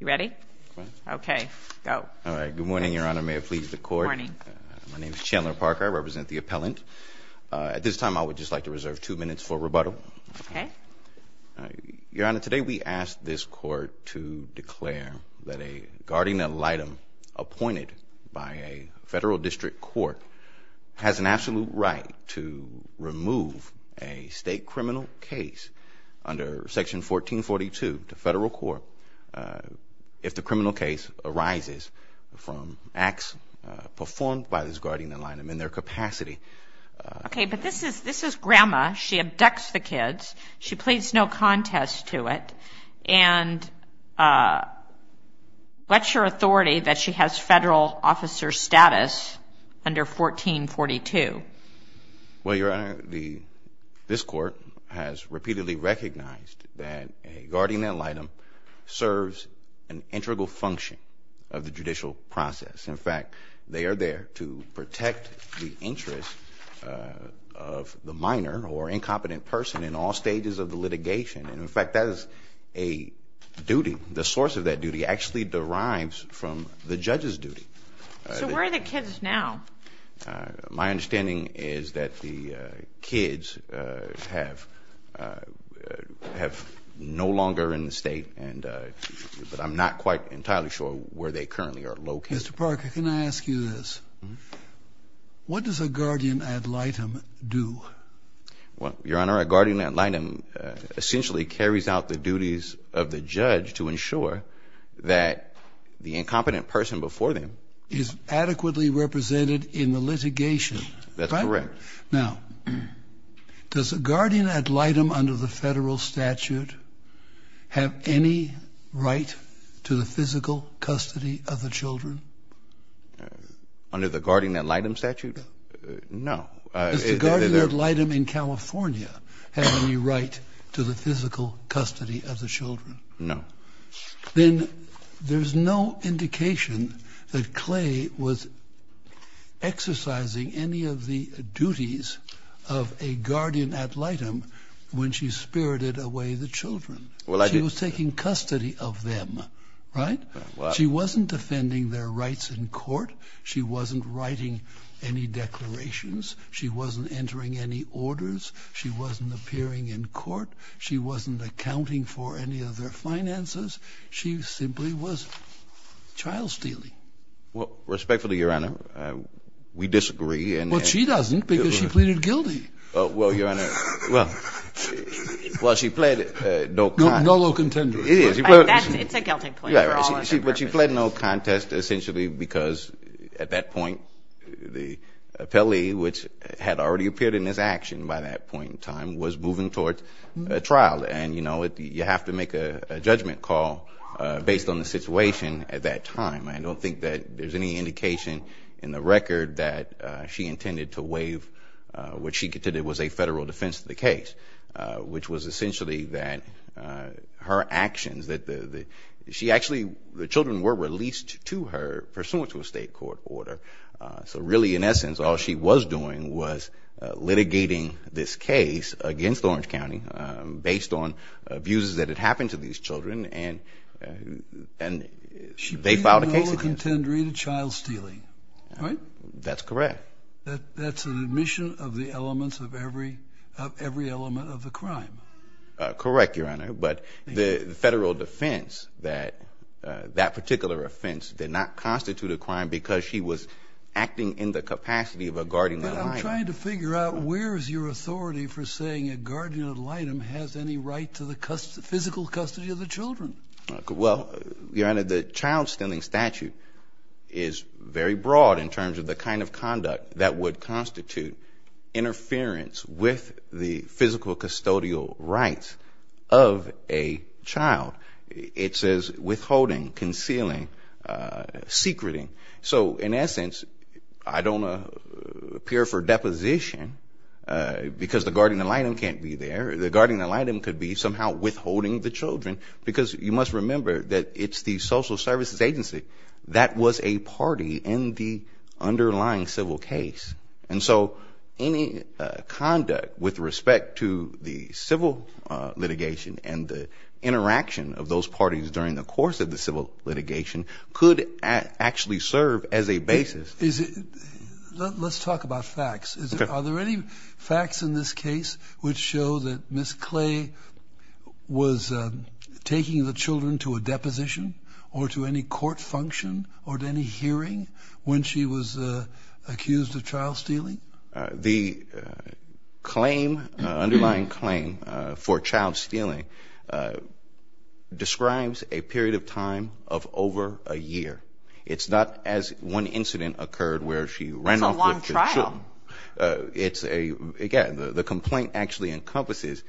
You ready? Okay. Go. All right. Good morning, Your Honor. May it please the court. My name is Chandler Parker. I represent the appellant. At this time, I would just like to reserve two minutes for rebuttal. Okay. Your Honor, today we ask this court to declare that a guardian ad litem appointed by a federal district court has an absolute right to remove a state criminal case under section 1442 to if the criminal case arises from acts performed by this guardian ad litem in their capacity. Okay, but this is Grandma. She abducts the kids. She pleads no contest to it. And what's your authority that she has federal officer status under 1442? Well, Your Honor, this court has repeatedly recognized that a guardian ad litem serves an integral function of the judicial process. In fact, they are there to protect the interest of the minor or incompetent person in all stages of the litigation. And in fact, that is a duty. The source of that duty actually derives from the judge's duty. So where are the kids now? My understanding is that the kids have no longer in the state, but I'm not quite entirely sure where they currently are located. Mr. Parker, can I ask you this? What does a guardian ad litem do? Well, Your Honor, a guardian ad litem is a duty that the incompetent person before them is adequately represented in the litigation. That's correct. Now, does a guardian ad litem under the federal statute have any right to the physical custody of the children? Under the guardian ad litem statute? No. Does the guardian ad litem have any right to the physical custody of the children? No. Then there's no indication that Clay was exercising any of the duties of a guardian ad litem when she spirited away the children. Well, I did. She was taking custody of them, right? She wasn't defending their rights in court. She wasn't writing any declarations. She wasn't entering any orders. She wasn't appearing in court. She wasn't accounting for any of their finances. She simply was child stealing. Well, respectfully, Your Honor, we disagree. Well, she doesn't because she pleaded guilty. Well, Your Honor, well, she pleaded no contest. It's a guilty claim for all of their purposes. Yeah, but she pleaded no contest essentially because at that point, the appellee, which had already appeared in this action by that point in time, was moving towards a trial. And, you know, you have to make a judgment call based on the situation at that time. I don't think that there's any indication in the record that she intended to waive what she considered was a federal defense of the case, which was essentially that her actions, that she actually, the children were released to her pursuant to a state court order. So really, in essence, all she was doing was litigating this case against Orange County based on views that had happened to these children and they filed a case against her. She pleaded no contendery to the crime. Correct, Your Honor. But the federal defense that that particular offense did not constitute a crime because she was acting in the capacity of a guardian ad litem. But I'm trying to figure out where's your authority for saying a guardian ad litem has any right to the physical custody of the children? Well, Your Honor, the child standing statute is very broad in terms of the kind of conduct that would constitute interference with the physical custodial rights of a child. It says withholding, concealing, secreting. So, in essence, I don't appear for deposition because the guardian ad litem can't be there. The guardian ad litem, I must remember, that it's the social services agency that was a party in the underlying civil case. And so any conduct with respect to the civil litigation and the interaction of those parties during the course of the civil litigation could actually serve as a basis. Let's talk about facts. Are there any facts in this case which show that Ms. Clay was taking the children to a deposition or to any court function or to any hearing when she was accused of child stealing? The claim, underlying claim, for child stealing describes a period of time of over a year. It's not as one incident occurred where she ran off with the children. Again, the complaint actually encompasses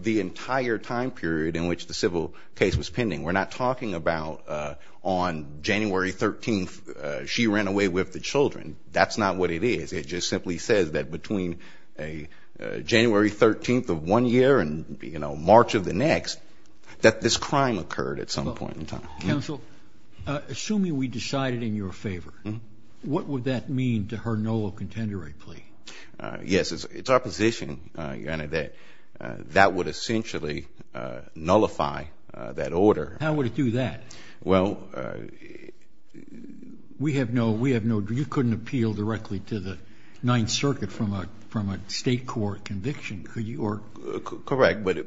the entire time period in which the civil case was pending. We're not talking about on January 13th, she ran away with the children. That's not what it is. It just simply says that between January 13th of one year and March of the next, that this crime occurred at some point in time. Counsel, assuming we decided in your favor, what would that mean to her null and contender plea? Yes, it's our position, Your Honor, that that would essentially nullify that order. How would it do that? Well, we have no, you couldn't appeal directly to the Ninth Circuit from a state court conviction, could you? Correct, but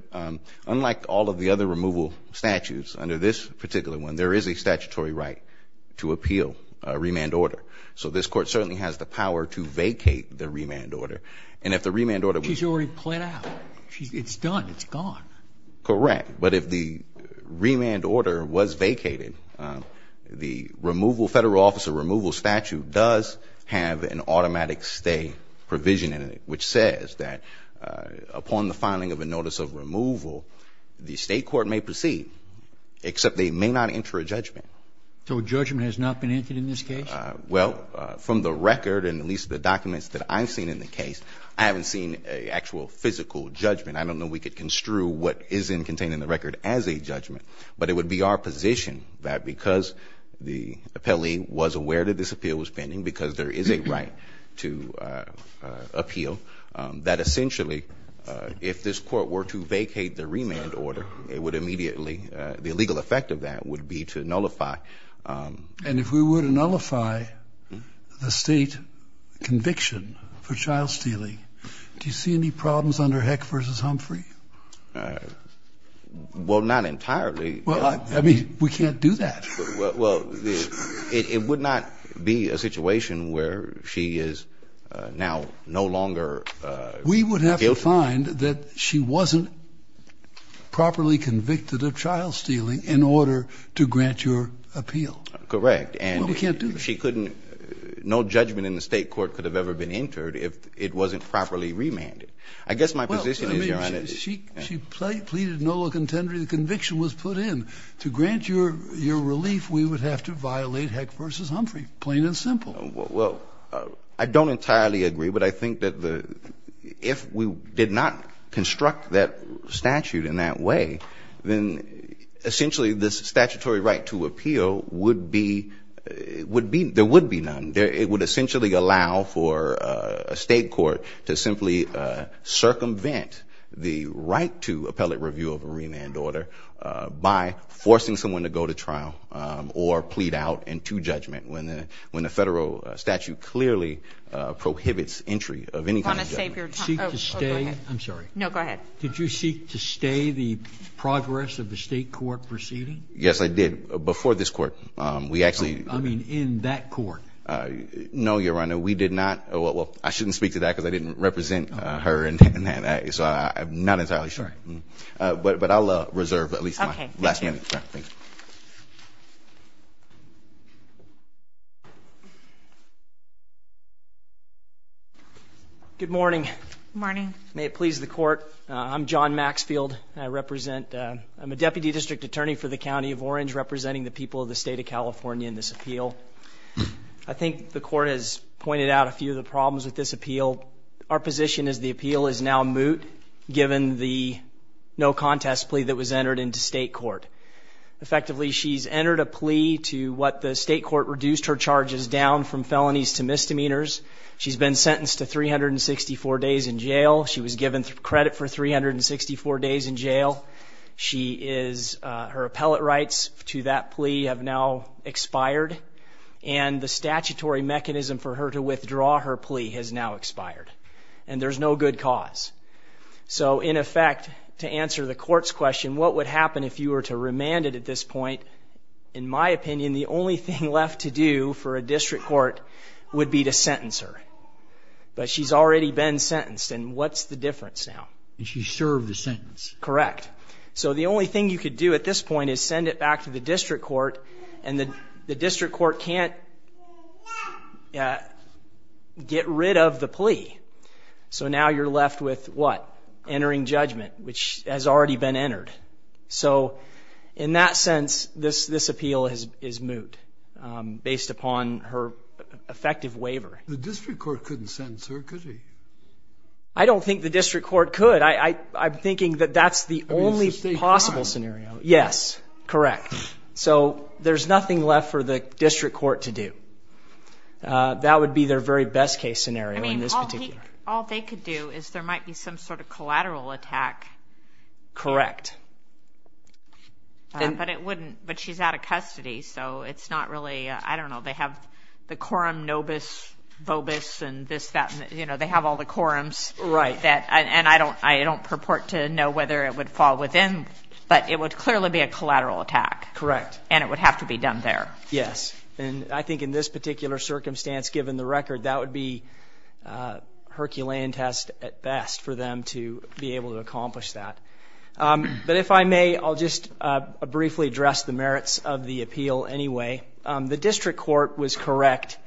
unlike all of the other removal statutes, under this particular one, there is a statutory right to appeal a remand order. So this court certainly has the power to vacate the remand order. And if the remand order was... She's already pled out. It's done. It's gone. Correct, but if the remand order was vacated, the removal, federal officer removal statute does have an automatic stay provision in it, which says that upon the filing of a notice of removal, the state court may proceed, except they may not enter a judgment. So a judgment has not been entered in this case? Well, from the record, and at least the documents that I've seen in the case, I haven't seen a actual physical judgment. I don't know we could construe what is contained in the record as a judgment, but it would be our position that because the appellee was aware that this appeal was pending, because there is a right to appeal, that essentially, if this court were to vacate the remand order, it would immediately, the legal effect of that would be to nullify... Well, not entirely. Well, I mean, we can't do that. Well, it would not be a situation where she is now no longer guilty. We would have to find that she wasn't properly convicted of trial stealing in order to grant your appeal. Correct. Well, we can't do that. And she couldn't, no judgment in the state court could have ever been entered if it wasn't properly remanded. I guess my position is, Your Honor... Well, I mean, she pleaded no contender. The conviction was put in. To grant your relief, we would have to violate Heck v. Humphrey, plain and simple. Well, I don't entirely agree, but I think that if we did not construct that statute in that way, then essentially, this statutory right to appeal would be, there would be none. It would essentially allow for a state court to simply circumvent the right to appellate review of a remand order by forcing someone to go to trial or plead out into judgment when the federal statute clearly prohibits entry of any kind of judgment. I want to save your time. Oh, go ahead. I'm sorry. No, go ahead. Did you seek to stay the progress of the state court proceeding? Yes, I did. Before this court, we actually... I mean, in that court. No, Your Honor. We did not... Well, I shouldn't speak to that because I didn't represent her in that. So I'm not entirely sure. But I'll reserve at least my last minute. Good morning. Morning. May it please the court. I'm John Maxfield. I represent... I'm a deputy district attorney for the county of Orange, representing the people of the state of California in this appeal. I think the court has pointed out a few of the problems with this appeal. Our position is the appeal is now moot given the no contest plea that was entered into state court. Effectively, she's entered a plea to what the state court reduced her charges down from felonies to misdemeanors. She's been sentenced to 364 days in jail. She was given credit for 364 days in jail. She is... Her appellate rights to that plea have now expired. And the statutory mechanism for her to withdraw her plea has now expired. And there's no good cause. So in effect, to answer the court's question, what would happen if you were to remand it at this point? In my opinion, the only thing left to do for a district court would be to sentence her. But she's already been sentenced. And what's the difference now? She served a sentence. Correct. So the only thing you could do at this point is send it back to the district court. And the district court can't get rid of the plea. So now you're left with what? Entering judgment, which has already been entered. So in that sense, this appeal is moot based upon her effective waiver. The district court couldn't sentence her, could he? I don't think the district court could. I'm thinking that that's the only possible scenario. Yes, correct. So there's nothing left for the district court to do. That would be their very best case scenario in this particular. All they could do is there might be some sort of collateral attack. Correct. But it wouldn't. But she's out of custody. So it's not really... I don't know. They have the quorum nobis vobis and this, that. You know, they have all the quorums. Right. And I don't purport to know whether it would fall within, but it would clearly be a collateral attack. Correct. And it would have to be done there. Yes. And I think in this particular circumstance, given the record, that would be Herculean test at best for them to be able to accomplish that. But if I may, I'll just briefly address the merits of the appeal anyway. The district court was correct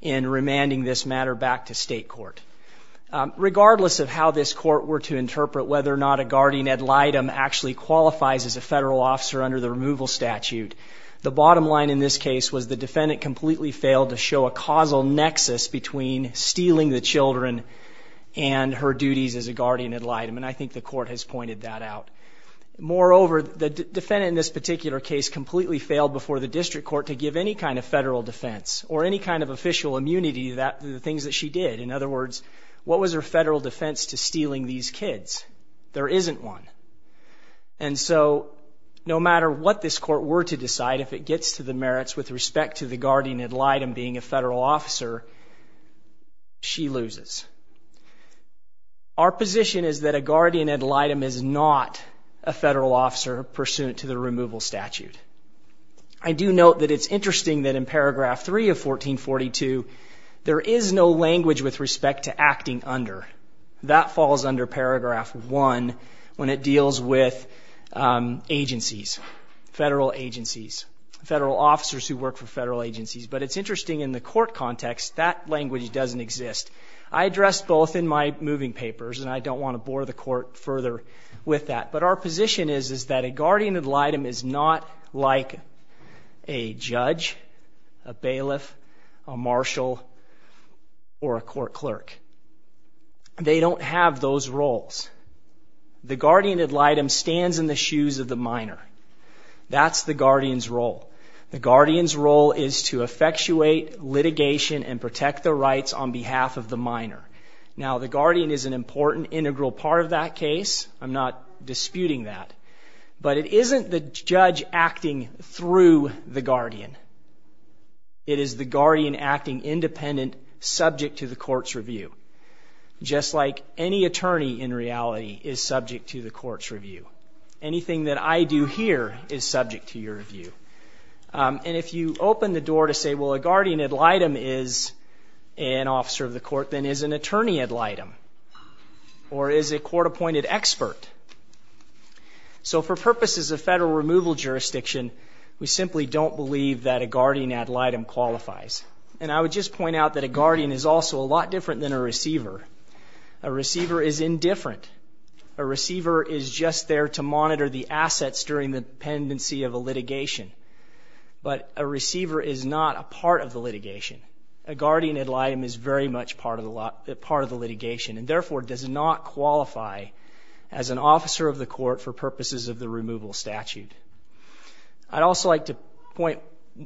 in remanding this matter back to state court. Regardless of how this court were to interpret whether or not a guardian ad litem actually qualifies as a federal officer under the removal statute, the bottom line in this case was the defendant completely failed to show a causal nexus between stealing the children and her duties as a guardian ad litem. And I think the court has pointed that out. Moreover, the defendant in this particular case completely failed before the district court to give any kind of federal defense or any kind of official immunity to the things that she did. In other words, what was her federal defense to stealing these kids? There isn't one. And so no matter what this court were to decide, if it gets to the merits with respect to the guardian ad litem being a federal officer, she loses. Our position is that a guardian ad litem is not a federal officer pursuant to the removal statute. I do note that it's interesting that in paragraph three of 1442, there is no language with respect to acting under. That falls under paragraph one when it deals with agencies, federal agencies, federal officers who work for federal agencies. But it's interesting in the court context, that language doesn't exist. I addressed both in my moving papers, and I don't want to bore the court further with that. But our position is that a guardian ad litem is not like a judge, a bailiff, a court clerk. They don't have those roles. The guardian ad litem stands in the shoes of the minor. That's the guardian's role. The guardian's role is to effectuate litigation and protect the rights on behalf of the minor. Now, the guardian is an important integral part of that case. I'm not disputing that. But it isn't the judge acting through the guardian. It is the guardian acting independent, subject to the court's review, just like any attorney, in reality, is subject to the court's review. Anything that I do here is subject to your review. And if you open the door to say, well, a guardian ad litem is an officer of the court, then is an attorney ad litem, or is a court-appointed expert? So for purposes of federal removal jurisdiction, we simply don't believe that a guardian ad litem qualifies. And I would just point out that a guardian is also a lot different than a receiver. A receiver is indifferent. A receiver is just there to monitor the assets during the pendency of a litigation. But a receiver is not a part of the litigation. A guardian ad litem is very much part of the litigation, and therefore does not qualify as an officer of the court for purposes of the removal statute. I'd also like to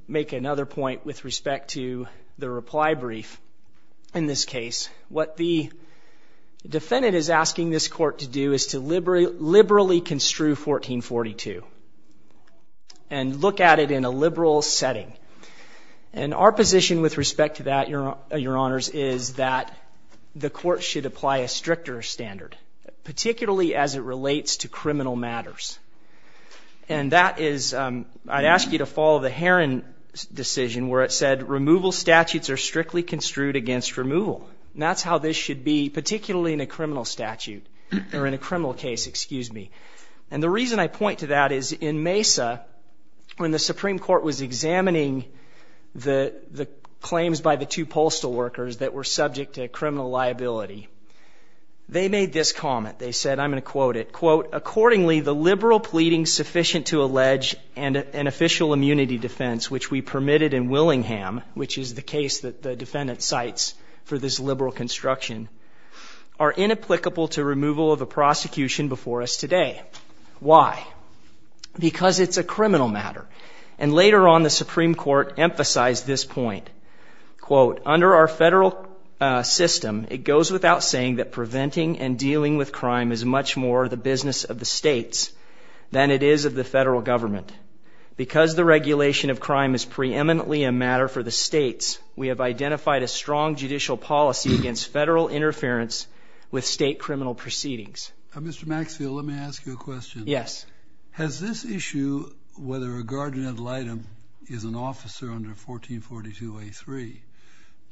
make another point with respect to the reply brief. In this case, what the defendant is asking this court to do is to liberally construe 1442 and look at it in a liberal setting. And our position with respect to that, Your Honors, is that the court should apply a stricter standard, particularly as it relates to criminal matters. And that is, I'd ask you to follow the Heron decision where it said, removal statutes are strictly construed against removal. That's how this should be, particularly in a criminal statute, or in a criminal case, excuse me. And the reason I point to that is in Mesa, when the Supreme Court was examining the claims by the two postal workers that were subject to criminal liability, they made this comment. They said, I'm going to quote it, quote, accordingly, the liberal pleading sufficient to allege an official immunity defense, which we permitted in Willingham, which is the case that the defendant cites for this liberal construction, are inapplicable to removal of the prosecution before us today. Why? Because it's a criminal matter. And later on, the Supreme Court emphasized this point, quote, under our federal system, it goes without saying that preventing and dealing with crime is much more the business of the states than it is of the federal government. Because the regulation of crime is preeminently a matter for the states, we have identified a strong judicial policy against federal interference with state criminal proceedings. Mr. Maxfield, let me ask you a question. Yes. Has this issue, whether a guardian ad litem is an officer under 1442A3,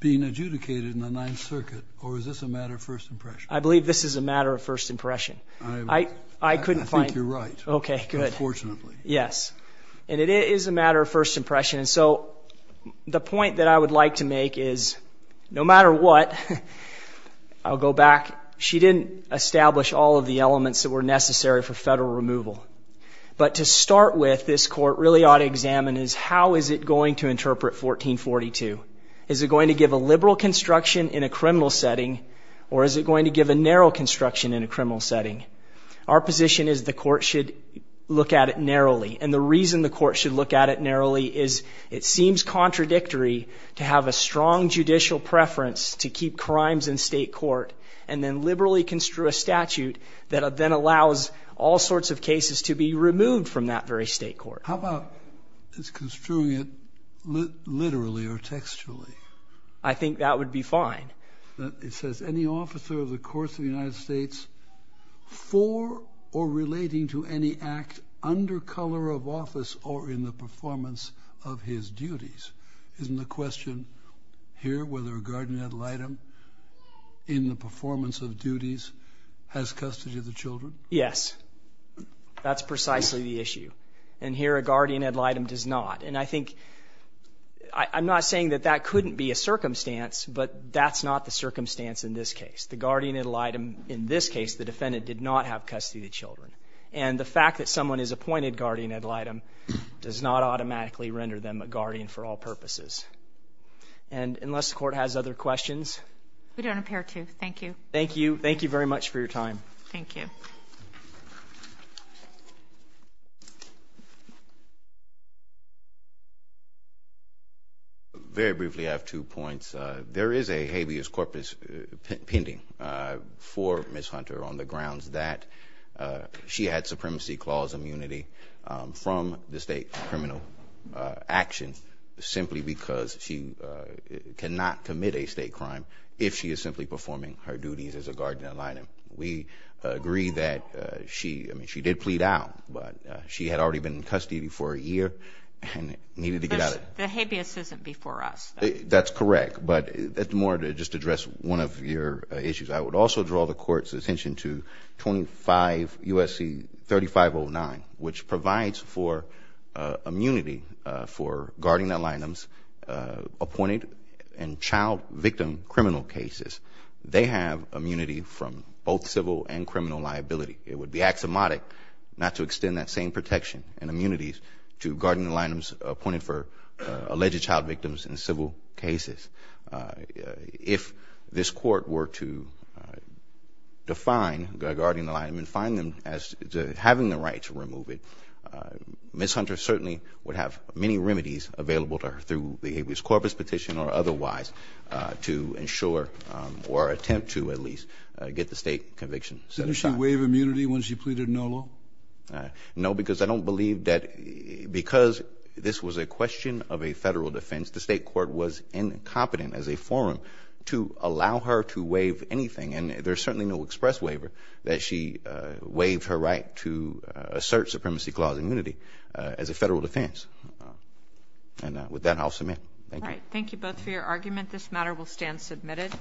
being adjudicated in the Ninth Circuit, or is this a matter of first impression? I believe this is a matter of first impression. I think you're right, unfortunately. Yes. And it is a matter of first impression. And so the point that I would like to make is, no matter what, I'll go back. She didn't establish all of the elements that were necessary for federal removal. But to start with, this court really ought to examine is, how is it going to interpret 1442? Is it going to give a liberal construction in a criminal setting, or is it going to give a narrow construction in a criminal setting? Our position is the court should look at it narrowly. And the reason the court should look at it narrowly is, it seems contradictory to have a strong judicial preference to keep crimes in state court, and then liberally construe a statute that then allows all sorts of cases to be removed from that very state court. How about it's construing it literally or textually? I think that would be fine. It says, any officer of the course of the United States for or relating to any act under color of office or in the performance of his duties. Isn't the question here whether a guardian ad litem in the performance of duties has custody of the children? Yes. That's precisely the issue. And here a guardian ad litem does not. And I think I'm not saying that that couldn't be a circumstance, but that's not the circumstance in this case. The guardian ad litem in this case, the defendant did not have custody of the children. And the fact that someone is appointed guardian ad litem does not automatically render them a guardian for all purposes. And unless the court has other questions. We don't appear to. Thank you. Thank you. Thank you very much for your time. Thank you. Thank you. Very briefly, I have two points. There is a habeas corpus pending for Ms. Hunter on the grounds that she had supremacy clause immunity from the state criminal actions simply because she cannot commit a state crime if she is simply performing her duties as a guardian ad litem. We agree that she, I mean, she did plead out, but she had already been in custody for a year and needed to get out. The habeas isn't before us. That's correct. But that's more to just address one of your issues. I would also draw the court's attention to 25 U.S.C. 3509, which provides for immunity for guardian ad litems appointed and child victim criminal cases. They have immunity from both civil and criminal liability. It would be axiomatic not to extend that same protection and immunities to guardian ad litems appointed for alleged child victims in civil cases. If this court were to define guardian ad litem and find them as having the right to remove it, Ms. Hunter certainly would have many remedies available to her through the habeas corpus petition or otherwise to ensure or attempt to at least get the state conviction set aside. Did she waive immunity when she pleaded no law? No, because I don't believe that because this was a question of a federal defense, the state court was incompetent as a forum to allow her to waive anything. And there's certainly no express waiver that she waived her right to assert supremacy clause immunity as a federal defense. And with that, I'll submit. All right. Thank you both for your argument. This matter will stand submitted.